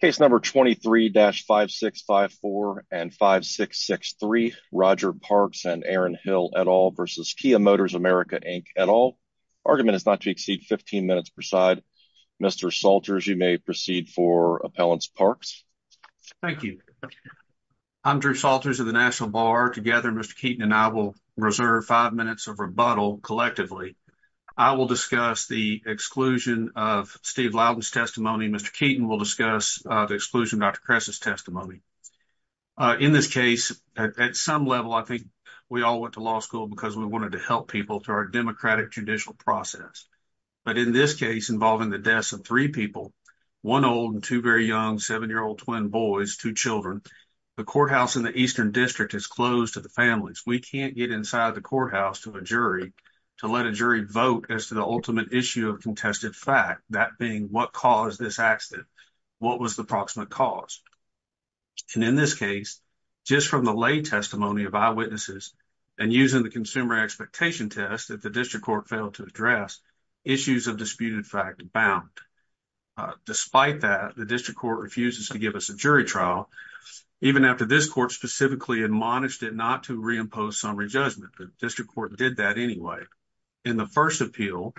Case number 23-5654 and 5663, Roger Parks and Aaron Hill et al. versus Kia Motors America Inc et al. Argument is not to exceed 15 minutes per side. Mr. Salters, you may proceed for Appellant Parks. Thank you. I'm Drew Salters of the National Bar. Together, Mr. Keaton and I will reserve 5 minutes of rebuttal collectively. I will discuss the exclusion of Steve Loudon's testimony. Mr. Keaton will discuss the exclusion of Dr. Kress's testimony. In this case, at some level, I think we all went to law school because we wanted to help people through our democratic judicial process. But in this case involving the deaths of three people, one old and two very young seven-year-old twin boys, two children, the courthouse in the Eastern District is closed to the families. We can't get inside the courthouse to a jury to let a jury vote as to the ultimate issue of contested fact, that being what caused this accident. What was the approximate cause? And in this case, just from the lay testimony of eyewitnesses and using the consumer expectation test that the district court failed to address, issues of disputed fact abound. Despite that, the district court refuses to give us a jury trial, even after this court specifically admonished it not to reimpose summary judgment. The district court did that anyway. In the first appeal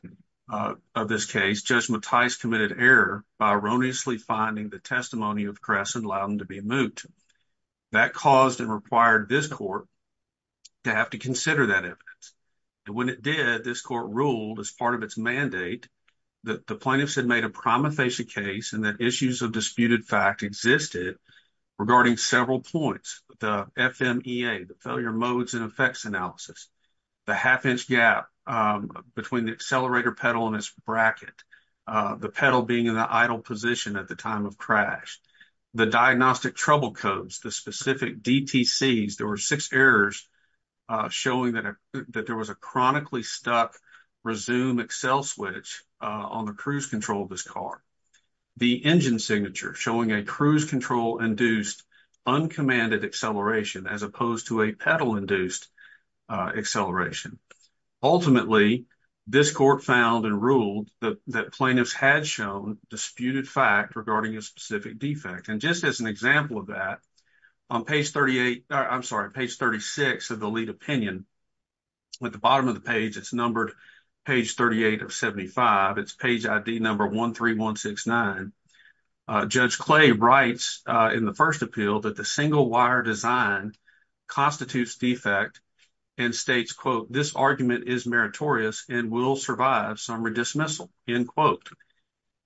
of this case, Judge Mattice committed error by erroneously finding the testimony of Kress and Loudon to be moot. That caused and required this court to have to consider that evidence. When it did, this court ruled as part of its mandate that the plaintiffs had made a prima facie case and that issues of disputed fact existed regarding several points. The FMEA, the failure modes and effects analysis, the half-inch gap between the accelerator pedal and its bracket, the pedal being in the idle position at the time of crash, the diagnostic trouble codes, the specific DTCs. There were six errors showing that there was a chronically stuck resume Excel switch on the cruise control of this car. The engine signature showing a cruise control induced uncommanded acceleration as opposed to a pedal induced acceleration. Ultimately, this court found and ruled that plaintiffs had shown disputed fact regarding a specific defect. Just as an example of that, on page 36 of the lead opinion, at the bottom of the page, it's numbered page 38 of 75. It's page ID number 13169. Judge Clay writes in the first appeal that the single wire design constitutes defect and states, quote, and will survive some redismissal, end quote.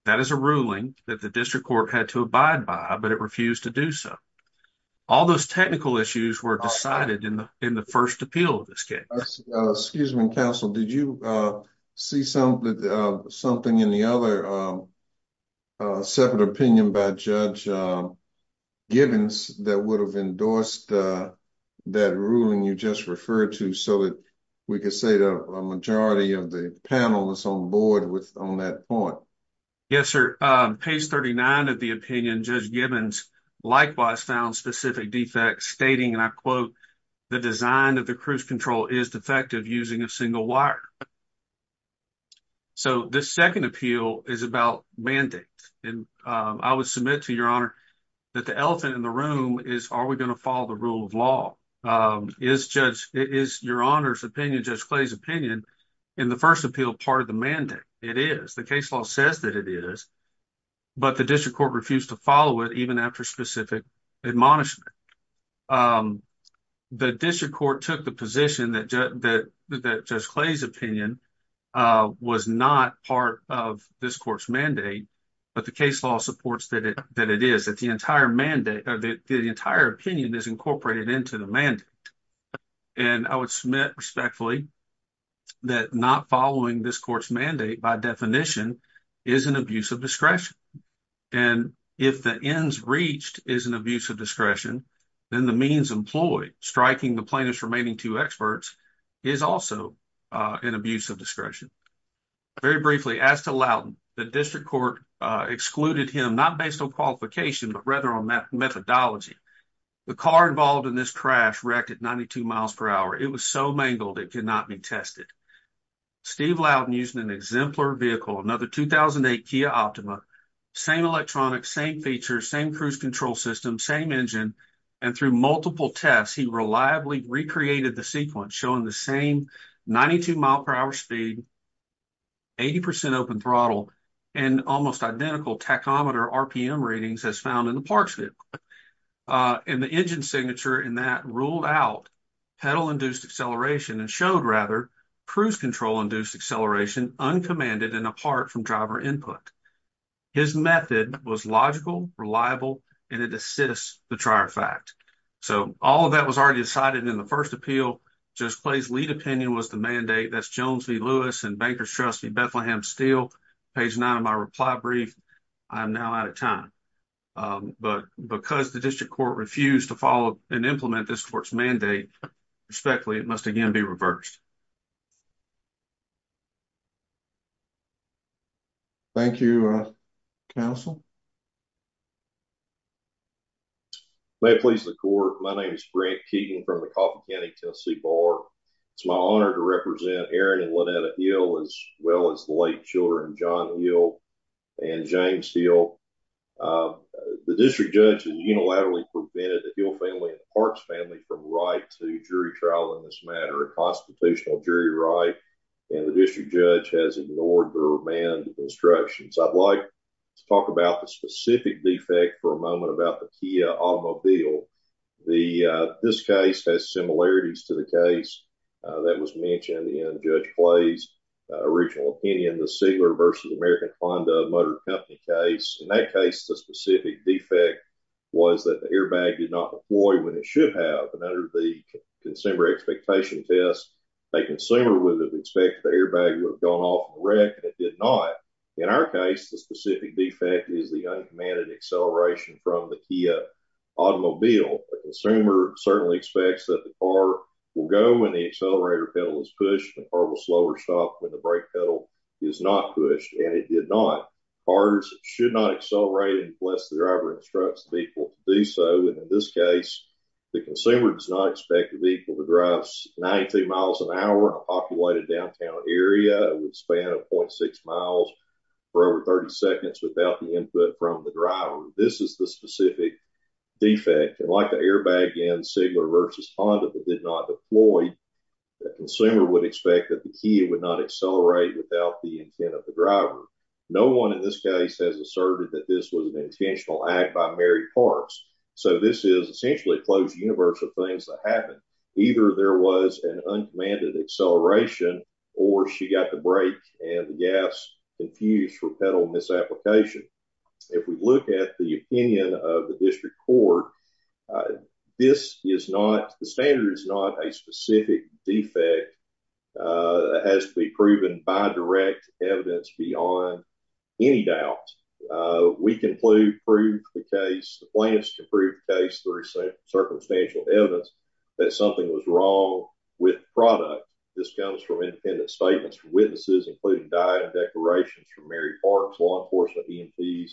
That is a ruling that the district court had to abide by, but it refused to do so. All those technical issues were decided in the first appeal of this case. Excuse me, counsel. Did you see something in the other separate opinion by Judge Gibbons that would have endorsed that ruling you just referred to, so that we could say the majority of the panel that's on board with on that point? Yes, sir. Page 39 of the opinion, Judge Gibbons likewise found specific defects stating, and I quote, the design of the cruise control is defective using a single wire. So this second appeal is about mandate. And I would submit to your honor that the elephant in the room is, are we going to follow the rule of law? Is your honor's opinion, Judge Clay's opinion in the first appeal part of the mandate? It is. The case law says that it is, but the district court refused to follow it even after specific admonishment. The district court took the position that Judge Clay's opinion was not part of this court's mandate, but the case law supports that it is, that the entire mandate or the entire opinion is incorporated into the mandate. And I would submit respectfully that not following this court's mandate by definition is an abuse of discretion. And if the ends reached is an abuse of discretion, then the means employed striking the plaintiff's remaining two experts is also an abuse of discretion. Very briefly, as to Loudon, the district court excluded him not based on qualification, but rather on methodology. The car involved in this crash wrecked at 92 miles per hour. It was so mangled it could not be tested. Steve Loudon using an exemplar vehicle, another 2008 Kia Optima, same electronics, same features, same cruise control system, same engine. And through multiple tests, he reliably recreated the sequence showing the same 92 mile per hour speed, 80 percent open throttle and almost identical tachometer RPM readings as found in the parks. And the engine signature in that ruled out pedal induced acceleration and showed rather cruise control induced acceleration uncommanded and apart from driver input. His method was logical, reliable, and it assists the trier fact. So all of that was already decided in the first appeal just plays. Lead opinion was the mandate. That's Jones v. Lewis and Banker's trustee Bethlehem Steel page nine of my reply brief. I'm now out of time, but because the district court refused to follow and implement this court's mandate respectfully, it must again be reversed. Thank you, counsel. May it please the court. My name is Grant Keating from the Coffin County, Tennessee Bar. It's my honor to represent Aaron and Lynette Hill as well as the late children, John Hill and James Hill. The district judge unilaterally prevented the Hill family and Parks family from right to jury trial in this matter. Constitutional jury right in the district judge has ignored or banned instructions. I'd like to talk about the specific defect for a moment about the Kia automobile. The this case has similarities to the case that was mentioned in Judge Clay's original opinion. The Seigler versus American Honda Motor Company case in that case, the specific defect was that the airbag did not employ when it should have. And under the consumer expectation test, a consumer would expect the airbag would have gone off the wreck. It did not. In our case, the specific defect is the uncommanded acceleration from the Kia automobile. The consumer certainly expects that the car will go when the accelerator pedal is pushed or will slow or stop when the brake pedal is not pushed. And it did not. Cars should not accelerate unless the driver instructs people to do so. And in this case, the consumer does not expect the vehicle to drive 90 miles an hour. A populated downtown area would span 0.6 miles for over 30 seconds without the input from the driver. This is the specific defect. And like the airbag in Seigler versus Honda that did not deploy, the consumer would expect that he would not accelerate without the intent of the driver. No one in this case has asserted that this was an intentional act by Mary Parks. So this is essentially a closed universe of things that happened. Either there was an uncommanded acceleration or she got the brake and the gas infused for pedal misapplication. If we look at the opinion of the district court, this is not the standard. It's not a specific defect that has to be proven by direct evidence beyond any doubt. The plaintiffs can prove the case through circumstantial evidence that something was wrong with the product. This comes from independent statements from witnesses, including diet and declarations from Mary Parks, law enforcement, EMPs,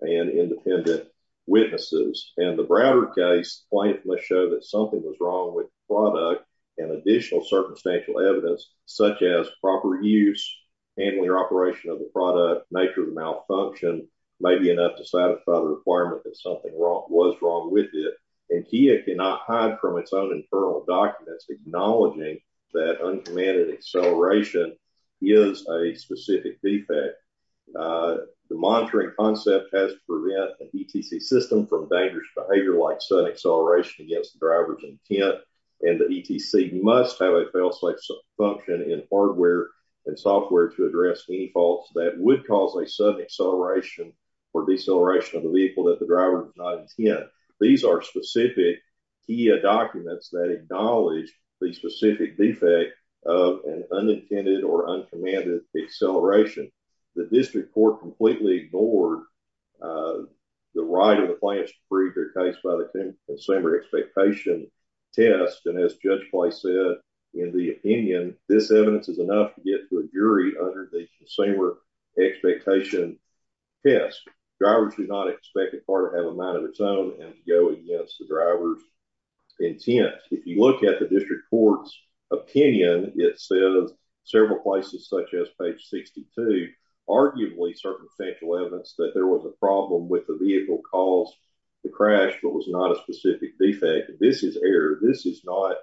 and independent witnesses. In the Browder case, the plaintiff must show that something was wrong with the product and additional circumstantial evidence such as proper use, handling or operation of the product, the nature of the malfunction may be enough to satisfy the requirement that something was wrong with it. And he cannot hide from its own internal documents acknowledging that uncommanded acceleration is a specific defect. The monitoring concept has to prevent an ETC system from dangerous behavior like sudden acceleration against the driver's intent. And the ETC must have a failsafe function in hardware and software to address any faults that would cause a sudden acceleration or deceleration of the vehicle that the driver did not intend. These are specific TIA documents that acknowledge the specific defect of an unintended or uncommanded acceleration. The district court completely ignored the right of the plaintiff to prove their case by the consumer expectation test. And as Judge Bly said, in the opinion, this evidence is enough to get to a jury under the consumer expectation test. Drivers do not expect a car to have a mind of its own and go against the driver's intent. In fact, if you look at the district court's opinion, it says several places such as page 62, arguably circumstantial evidence that there was a problem with the vehicle caused the crash but was not a specific defect. This is error. This is not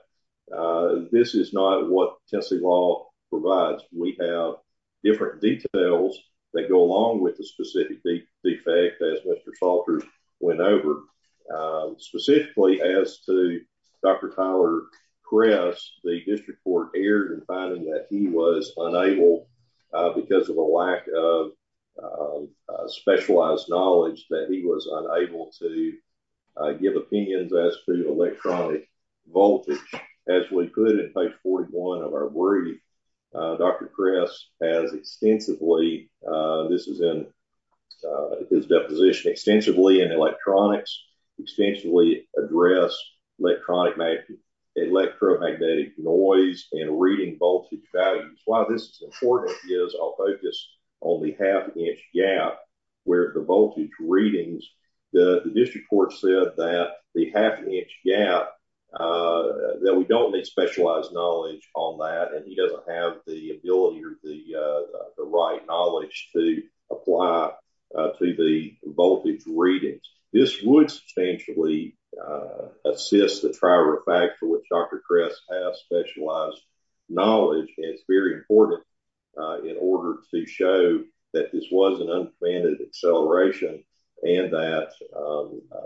what Tennessee law provides. We have different details that go along with the specific defect as Mr. Salter went over. Specifically as to Dr. Tyler Kress, the district court erred in finding that he was unable, because of a lack of specialized knowledge, that he was unable to give opinions as to electronic voltage. As we put it in page 41 of our wording, Dr. Kress has extensively, this is in his deposition, extensively in electronics, extensively addressed electromagnetic noise and reading voltage values. Why this is important is I'll focus on the half-inch gap where the voltage readings, the district court said that the half-inch gap, that we don't need specialized knowledge on that and he doesn't have the ability or the right knowledge to apply to the voltage readings. This would substantially assist the trial refactor, which Dr. Kress has specialized knowledge. It's very important in order to show that this was an uncommanded acceleration and that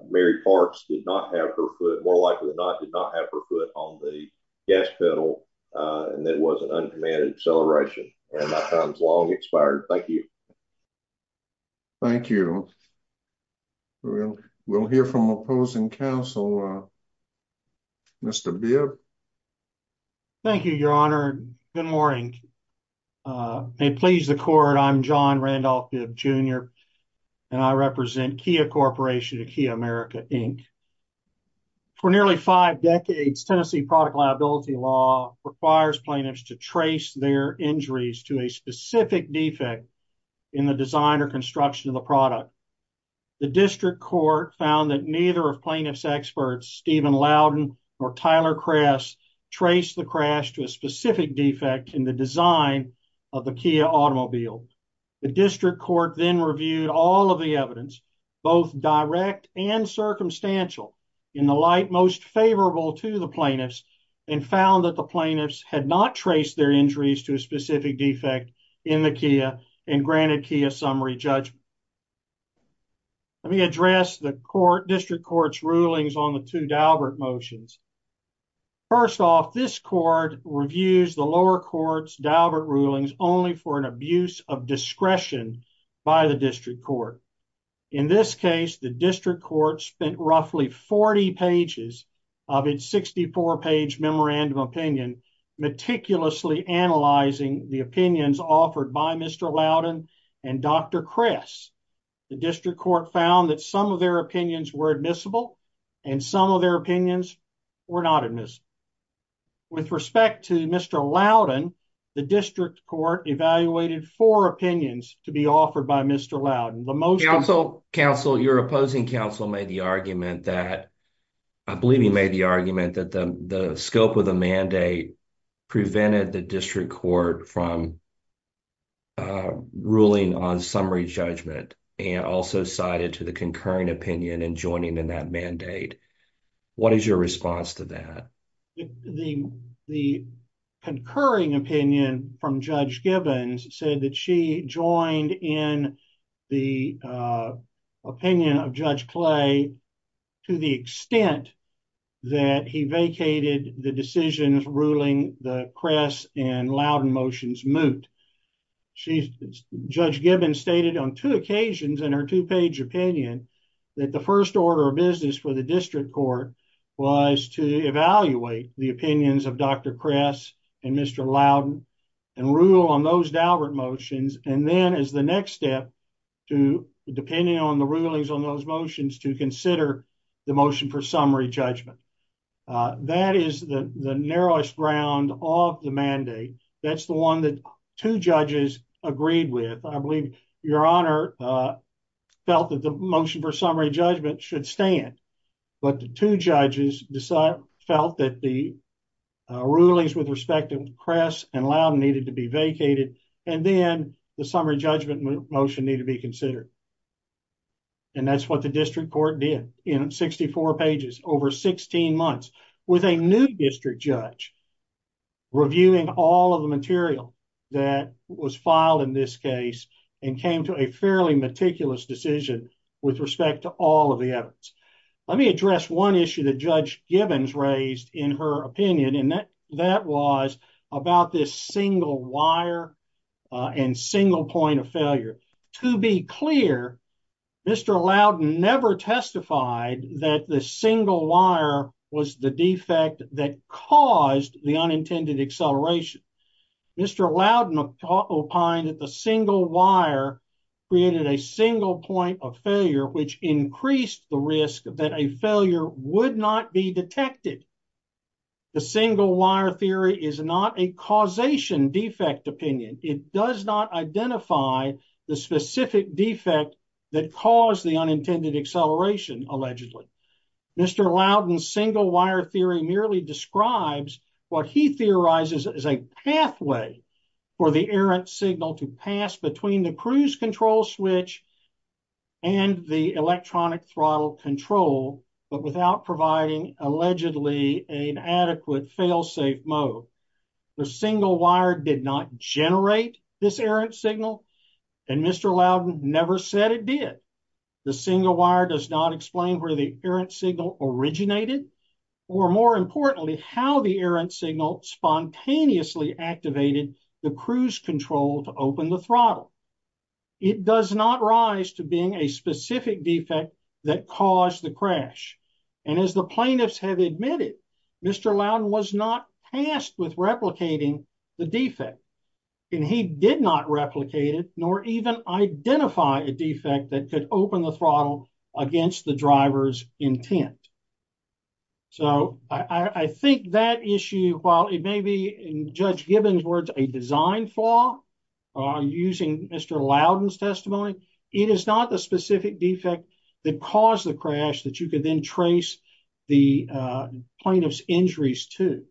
Mary Parks did not have her foot, more likely than not, did not have her foot on the gas pedal and that it was an uncommanded acceleration. My time has long expired. Thank you. Thank you. We'll hear from opposing counsel, Mr. Bibb. Thank you, Your Honor. Good morning. May it please the court, I'm John Randolph Bibb, Jr. and I represent Kia Corporation of Kia America, Inc. For nearly five decades, Tennessee product liability law requires plaintiffs to trace their injuries to a specific defect in the design or construction of the product. The district court found that neither of plaintiff's experts, Stephen Loudon or Tyler Kress, traced the crash to a specific defect in the design of the Kia automobile. The district court then reviewed all of the evidence, both direct and circumstantial, in the light most favorable to the plaintiffs and found that the plaintiffs had not traced their injuries to a specific defect in the Kia and granted Kia summary judgment. Let me address the district court's rulings on the two Daubert motions. First off, this court reviews the lower court's Daubert rulings only for an abuse of discretion by the district court. In this case, the district court spent roughly 40 pages of its 64-page memorandum opinion meticulously analyzing the opinions offered by Mr. Loudon and Dr. Kress. The district court found that some of their opinions were admissible and some of their opinions were not admissible. With respect to Mr. Loudon, the district court evaluated four opinions to be offered by Mr. Loudon. Counsel, your opposing counsel made the argument that, I believe he made the argument, that the scope of the mandate prevented the district court from ruling on summary judgment and also cited to the concurring opinion in joining in that mandate. What is your response to that? The concurring opinion from Judge Gibbons said that she joined in the opinion of Judge Clay to the extent that he vacated the decisions ruling the Kress and Loudon motions moot. Judge Gibbons stated on two occasions in her two-page opinion that the first order of business for the district court was to evaluate the opinions of Dr. Kress and Mr. Loudon and rule on those Dalbert motions and then as the next step, depending on the rulings on those motions, to consider the motion for summary judgment. That is the narrowest ground of the mandate. That's the one that two judges agreed with. I believe Your Honor felt that the motion for summary judgment should stand, but the two judges felt that the rulings with respect to Kress and Loudon needed to be vacated and then the summary judgment motion needed to be considered. And that's what the district court did in 64 pages over 16 months with a new district judge reviewing all of the material that was filed in this case and came to a fairly meticulous decision with respect to all of the evidence. Let me address one issue that Judge Gibbons raised in her opinion and that was about this single wire and single point of failure. To be clear, Mr. Loudon never testified that the single wire was the defect that caused the unintended acceleration. Mr. Loudon opined that the single wire created a single point of failure which increased the risk that a failure would not be detected. The single wire theory is not a causation defect opinion. It does not identify the specific defect that caused the unintended acceleration allegedly. Mr. Loudon's single wire theory merely describes what he theorizes is a pathway for the errant signal to pass between the cruise control switch and the electronic throttle control but without providing allegedly an adequate failsafe mode. The single wire did not generate this errant signal and Mr. Loudon never said it did. The single wire does not explain where the errant signal originated or more importantly how the errant signal spontaneously activated the cruise control to open the throttle. It does not rise to being a specific defect that caused the crash. As the plaintiffs have admitted, Mr. Loudon was not tasked with replicating the defect. He did not replicate it nor even identify a defect that could open the throttle against the driver's intent. I think that issue, while it may be in Judge Gibbons' words a design flaw using Mr. Loudon's testimony, it is not the specific defect that caused the crash that you could then trace the plaintiff's injuries to.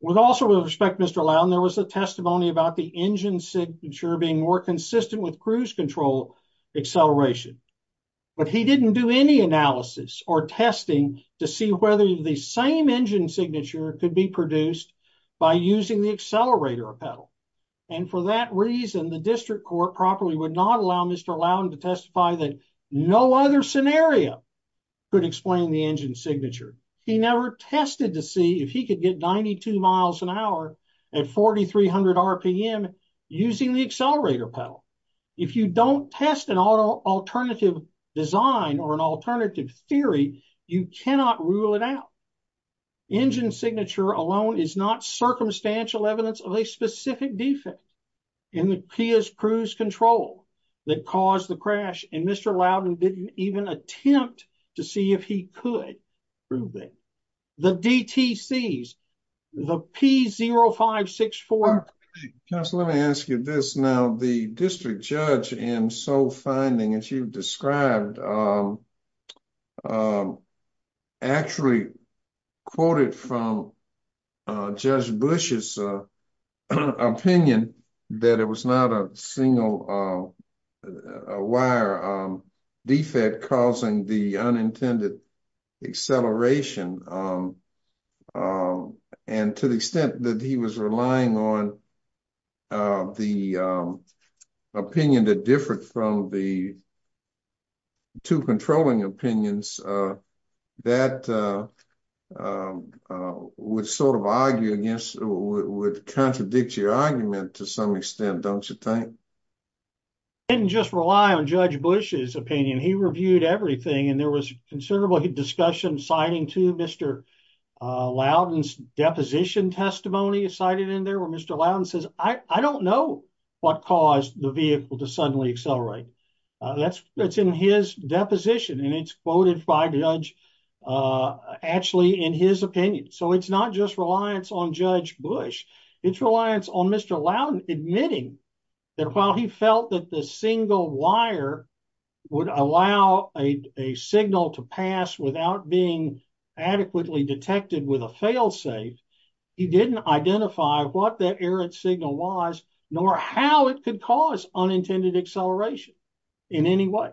With all due respect, Mr. Loudon, there was a testimony about the engine signature being more consistent with cruise control acceleration, but he didn't do any analysis or testing to see whether the same engine signature could be produced by using the accelerator pedal. And for that reason, the district court properly would not allow Mr. Loudon to testify that no other scenario could explain the engine signature. He never tested to see if he could get 92 miles an hour at 4,300 RPM using the accelerator pedal. If you don't test an alternative design or an alternative theory, you cannot rule it out. Engine signature alone is not circumstantial evidence of a specific defect in the PIA's cruise control that caused the crash, and Mr. Loudon didn't even attempt to see if he could prove it. The DTCs, the P0564… Counsel, let me ask you this. Now, the district judge in sole finding, as you've described, actually quoted from Judge Bush's opinion that it was not a single wire defect causing the unintended acceleration. And to the extent that he was relying on the opinion that differed from the two controlling opinions, that would contradict your argument to some extent, don't you think? He didn't just rely on Judge Bush's opinion. He reviewed everything, and there was considerable discussion citing to Mr. Loudon's deposition testimony cited in there where Mr. Loudon says, I don't know what caused the vehicle to suddenly accelerate. That's in his deposition, and it's quoted by the judge actually in his opinion. So it's not just reliance on Judge Bush. It's reliance on Mr. Loudon admitting that while he felt that the single wire would allow a signal to pass without being adequately detected with a failsafe, he didn't identify what that error signal was, nor how it could cause unintended acceleration in any way.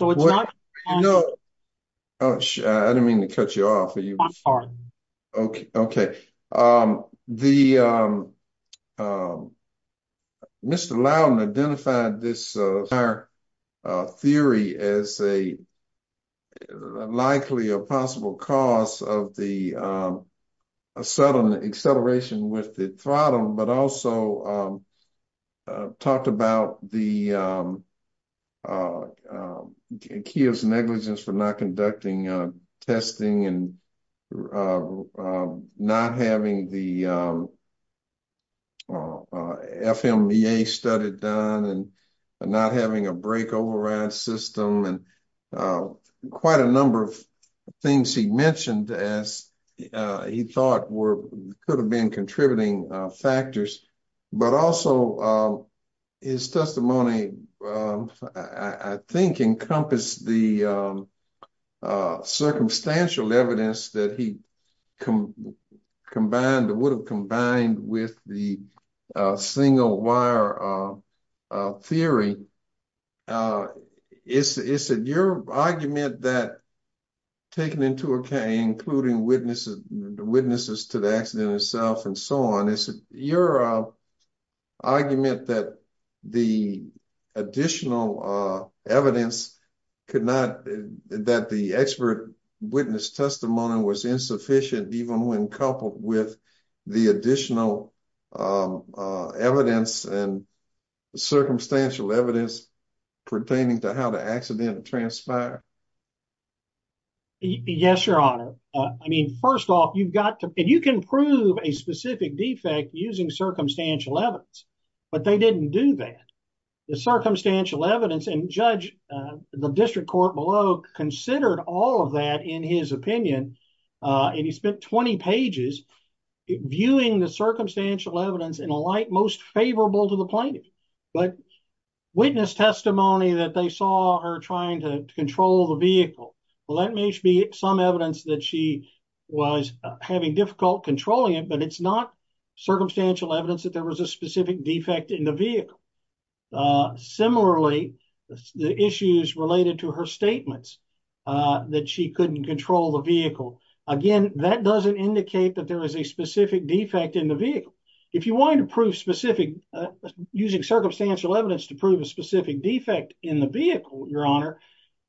I didn't mean to cut you off. Okay. Mr. Loudon identified this theory as likely a possible cause of the sudden acceleration with the throttle, but also talked about Kia's negligence for not conducting testing and not having the FMEA study done and not having a brake override system and quite a number of things he mentioned, as he thought could have been contributing factors. But also his testimony, I think, encompassed the circumstantial evidence that he combined, that would have combined with the single wire theory. It's your argument that taken into account, including witnesses to the accident itself and so on, it's your argument that the additional evidence could not, that the expert witness testimony was insufficient, even when coupled with the additional evidence and circumstantial evidence pertaining to how the accident transpired? Yes, Your Honor. I mean, first off, you've got to, and you can prove a specific defect using circumstantial evidence, but they didn't do that. The circumstantial evidence, and Judge, the district court below, considered all of that in his opinion, and he spent 20 pages viewing the circumstantial evidence in a light most favorable to the plaintiff. But witness testimony that they saw her trying to control the vehicle, well, that may be some evidence that she was having difficult controlling it, but it's not circumstantial evidence that there was a specific defect in the vehicle. Similarly, the issues related to her statements that she couldn't control the vehicle, again, that doesn't indicate that there was a specific defect in the vehicle. If you wanted to prove specific, using circumstantial evidence to prove a specific defect in the vehicle, Your Honor,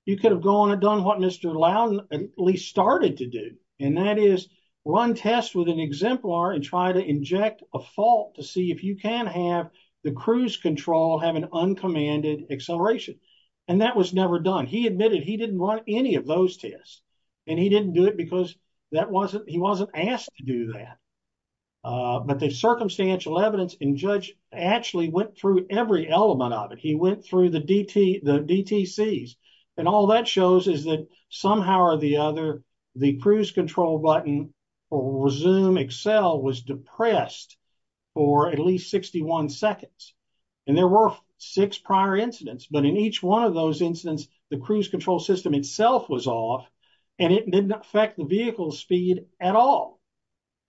you could have gone and done what Mr. Lowndes at least started to do, and that is run tests with an exemplar and try to inject a fault to see if you can have the cruise control have an uncommanded acceleration, and that was never done. He admitted he didn't run any of those tests, and he didn't do it because he wasn't asked to do that. But the circumstantial evidence, and Judge actually went through every element of it. He went through the DTCs, and all that shows is that somehow or the other, the cruise control button for Zoom Excel was depressed for at least 61 seconds, and there were six prior incidents, but in each one of those incidents, the cruise control system itself was off, and it didn't affect the vehicle's speed at all.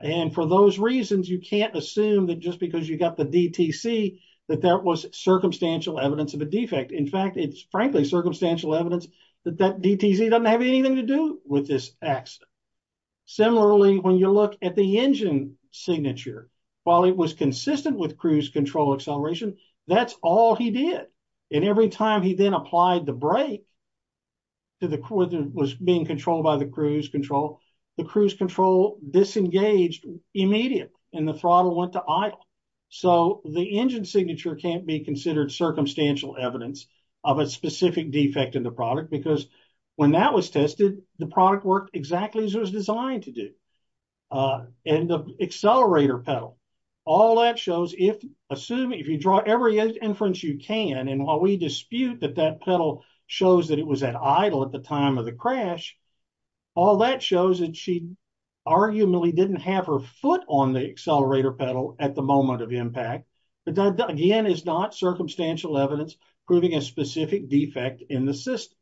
And for those reasons, you can't assume that just because you got the DTC, that that was circumstantial evidence of a defect. In fact, it's frankly circumstantial evidence that that DTC doesn't have anything to do with this accident. Similarly, when you look at the engine signature, while it was consistent with cruise control acceleration, that's all he did, and every time he then applied the brake, it was being controlled by the cruise control. The cruise control disengaged immediate, and the throttle went to idle. So the engine signature can't be considered circumstantial evidence of a specific defect in the product, because when that was tested, the product worked exactly as it was designed to do. And the accelerator pedal, all that shows, if you draw every inference you can, and while we dispute that that pedal shows that it was at idle at the time of the crash, all that shows that she arguably didn't have her foot on the accelerator pedal at the moment of impact, but that again is not circumstantial evidence proving a specific defect in the system.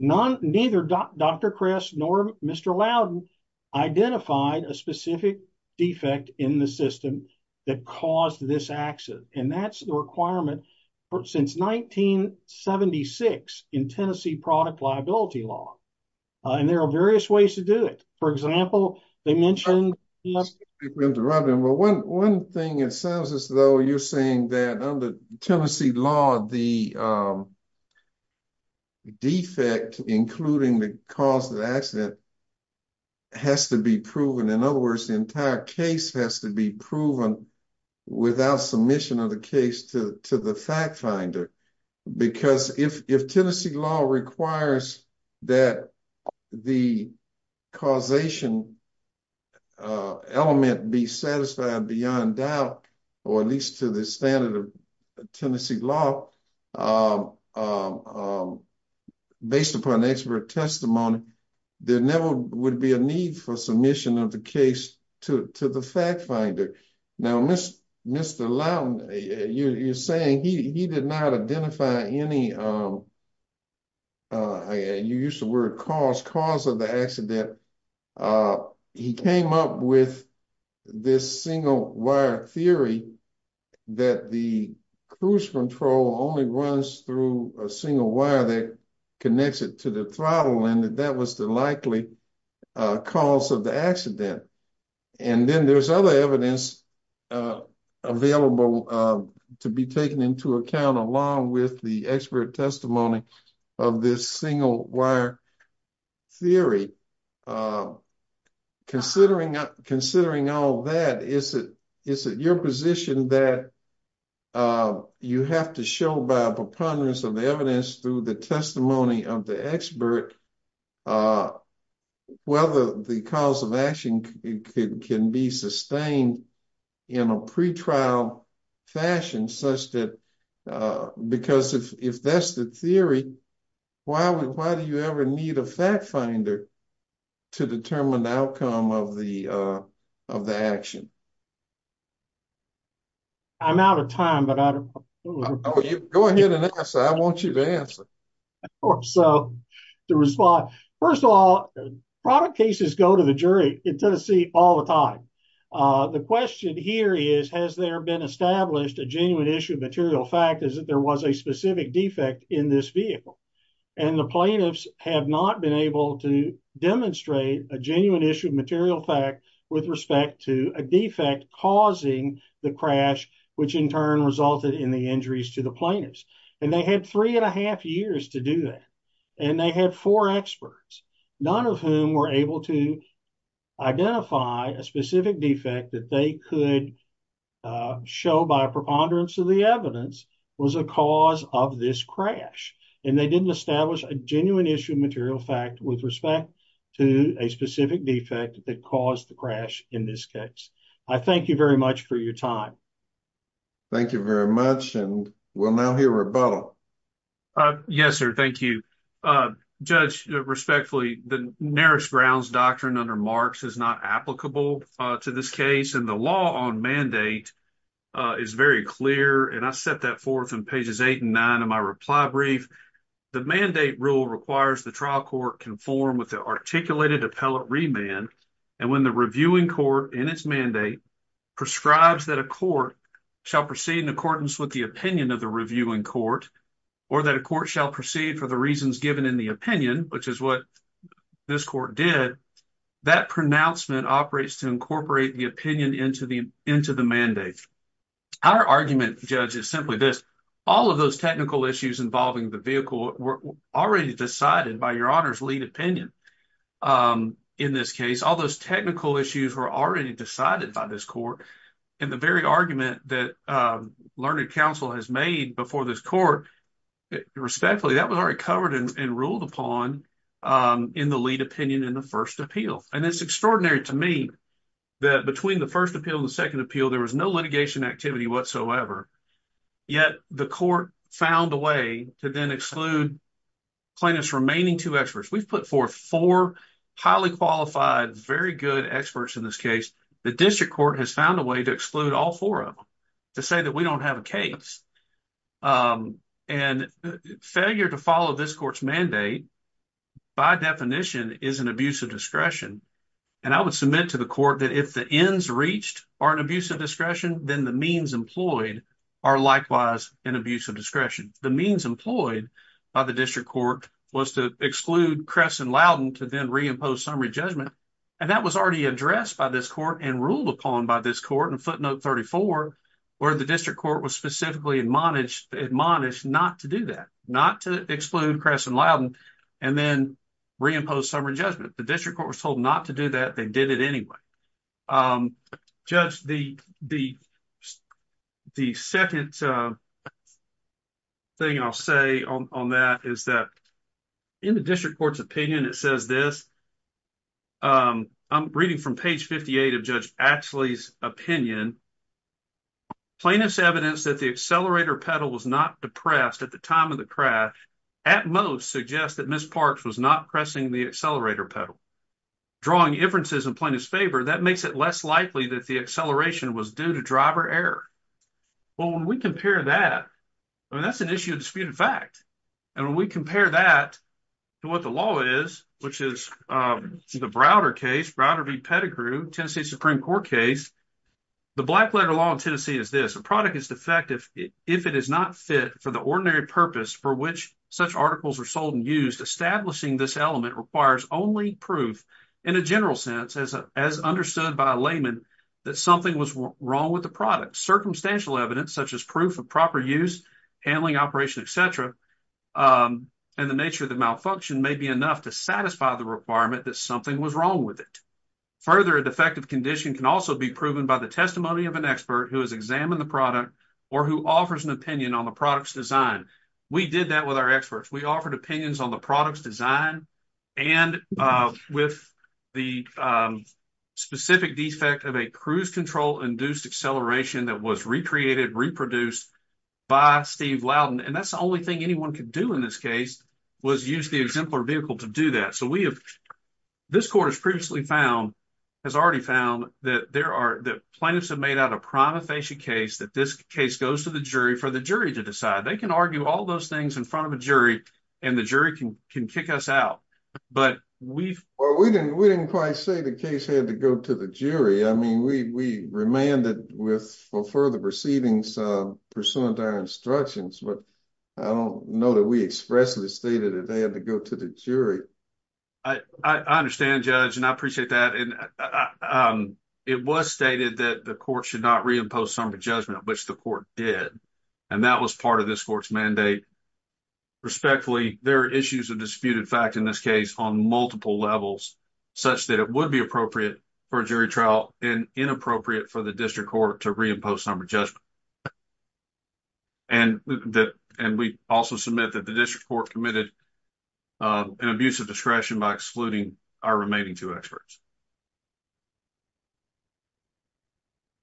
Neither Dr. Kress nor Mr. Loudon identified a specific defect in the system that caused this accident, and that's the requirement since 1976 in Tennessee product liability law. And there are various ways to do it. For example, they mentioned... One thing, it sounds as though you're saying that under Tennessee law, the defect, including the cause of the accident, has to be proven. In other words, the entire case has to be proven without submission of the case to the fact finder, because if Tennessee law requires that the causation element be satisfied beyond doubt, or at least to the standard of Tennessee law, based upon expert testimony, there never would be a need for submission of the case to the fact finder. Now, Mr. Loudon, you're saying he did not identify any, you used the word cause, cause of the accident. He came up with this single wire theory that the cruise control only runs through a single wire that connects it to the throttle, and that that was the likely cause of the accident. And then there's other evidence available to be taken into account, along with the expert testimony of this single wire theory. Considering all that, is it your position that you have to show by a preponderance of the evidence through the testimony of the expert whether the cause of action can be sustained in a pretrial fashion, because if that's the theory, why do you ever need a fact finder to determine the outcome of the action? I'm out of time. Go ahead and answer. I want you to answer. First of all, product cases go to the jury in Tennessee all the time. The question here is, has there been established a genuine issue of material fact is that there was a specific defect in this vehicle. And the plaintiffs have not been able to demonstrate a genuine issue of material fact with respect to a defect causing the crash, which in turn resulted in the injuries to the plaintiffs. And they had three and a half years to do that. And they had four experts, none of whom were able to identify a specific defect that they could show by a preponderance of the evidence was a cause of this crash. And they didn't establish a genuine issue of material fact with respect to a specific defect that caused the crash in this case. I thank you very much for your time. Thank you very much. And we'll now hear Rebuttal. Yes, sir. Thank you. Judge, respectfully, the nearest grounds doctrine under Marx is not applicable to this case. And the law on mandate is very clear. And I set that forth in pages eight and nine of my reply brief. The mandate rule requires the trial court conform with the articulated appellate remand. And when the reviewing court in its mandate prescribes that a court shall proceed in accordance with the opinion of the reviewing court, or that a court shall proceed for the reasons given in the opinion, which is what this court did, that pronouncement operates to incorporate the opinion into the mandate. Our argument, Judge, is simply this. All of those technical issues involving the vehicle were already decided by Your Honor's lead opinion. In this case, all those technical issues were already decided by this court. And the very argument that Learned Counsel has made before this court, respectfully, that was already covered and ruled upon in the lead opinion in the first appeal. And it's extraordinary to me that between the first appeal and the second appeal, there was no litigation activity whatsoever. Yet the court found a way to then exclude plaintiff's remaining two experts. We've put forth four highly qualified, very good experts in this case. The district court has found a way to exclude all four of them to say that we don't have a case. And failure to follow this court's mandate by definition is an abuse of discretion. And I would submit to the court that if the ends reached are an abuse of discretion, then the means employed are likewise an abuse of discretion. The means employed by the district court was to exclude Kress and Loudon to then reimpose summary judgment. And that was already addressed by this court and ruled upon by this court in footnote 34, where the district court was specifically admonished not to do that, not to exclude Kress and Loudon and then reimpose summary judgment. The district court was told not to do that. They did it anyway. Judge, the second thing I'll say on that is that in the district court's opinion, it says this. I'm reading from page 58 of Judge Axley's opinion. Plaintiff's evidence that the accelerator pedal was not depressed at the time of the crash at most suggests that Ms. Parks was not pressing the accelerator pedal. Drawing inferences in plaintiff's favor, that makes it less likely that the acceleration was due to driver error. Well, when we compare that, I mean, that's an issue of disputed fact. And when we compare that to what the law is, which is the Browder case, Browder v. Pettigrew, Tennessee Supreme Court case, the black letter law in Tennessee is this. A product is defective if it is not fit for the ordinary purpose for which such articles are sold and used. Establishing this element requires only proof in a general sense, as understood by a layman, that something was wrong with the product. Circumstantial evidence such as proof of proper use, handling, operation, etc. And the nature of the malfunction may be enough to satisfy the requirement that something was wrong with it. Further, a defective condition can also be proven by the testimony of an expert who has examined the product or who offers an opinion on the product's design. We did that with our experts. We offered opinions on the product's design and with the specific defect of a cruise control induced acceleration that was recreated, reproduced by Steve Loudon. And that's the only thing anyone could do in this case was use the exemplar vehicle to do that. So we have this court has previously found has already found that there are the plaintiffs have made out a prima facie case that this case goes to the jury for the jury to decide. They can argue all those things in front of a jury and the jury can can kick us out. But we've we didn't we didn't quite say the case had to go to the jury. I mean, we remanded with for further proceedings pursuant to our instructions. But I don't know that we expressly stated that they had to go to the jury. I understand, Judge, and I appreciate that. And it was stated that the court should not reimpose some judgment, which the court did. And that was part of this court's mandate. Respectfully, there are issues of disputed fact in this case on multiple levels such that it would be appropriate for jury trial and inappropriate for the district court to reimpose some adjustment. And that and we also submit that the district court committed an abuse of discretion by excluding our remaining two experts.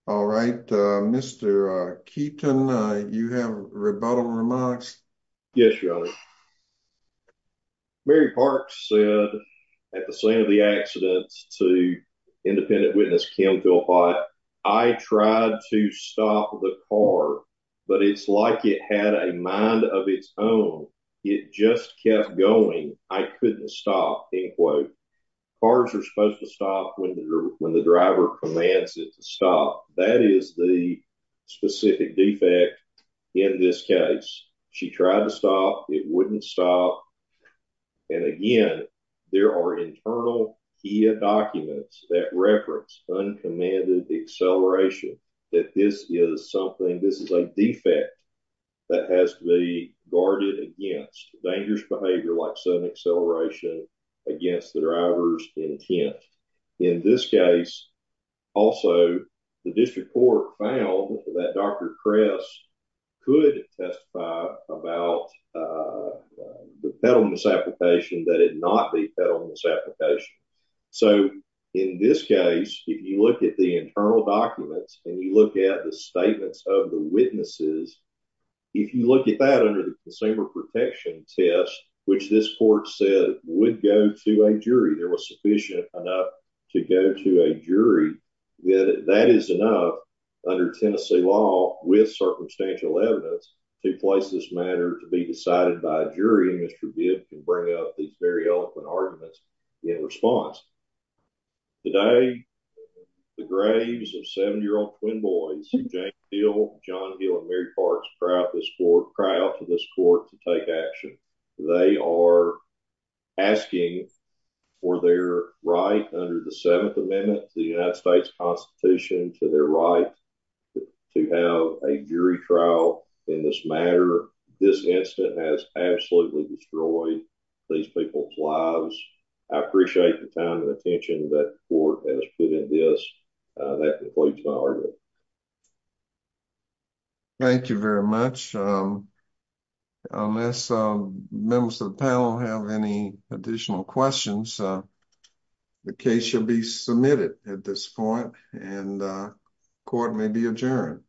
All right, Mr. Keaton, you have rebuttal remarks. Yes, Your Honor. Mary Park said at the scene of the accidents to independent witness, Kim, go by. I tried to stop the car, but it's like it had a mind of its own. It just kept going. I couldn't stop. Cars are supposed to stop when the driver commands it to stop. That is the specific defect in this case. She tried to stop. It wouldn't stop. And again, there are internal documents that reference uncommanded acceleration that this is something this is a defect that has to be guarded against dangerous behavior like sudden acceleration against the driver's intent. In this case, also, the district court found that Dr. Kress could testify about the peddle misapplication that it not be peddle misapplication. So in this case, if you look at the internal documents and you look at the statements of the witnesses, if you look at that under the consumer protection test, which this court said would go to a jury, there was sufficient enough to go to a jury. That is enough under Tennessee law with circumstantial evidence to place this matter to be decided by a jury. And Mr. Bibb can bring up these very eloquent arguments in response. Today, the graves of seven-year-old twin boys, James Hill, John Hill, and Mary Parks, cry out to this court to take action. They are asking for their right under the Seventh Amendment to the United States Constitution to their right to have a jury trial in this matter. This incident has absolutely destroyed these people's lives. I appreciate the time and attention that the court has put in this. That concludes my argument. Thank you very much. Unless members of the panel have any additional questions, the case should be submitted at this point and court may be adjourned.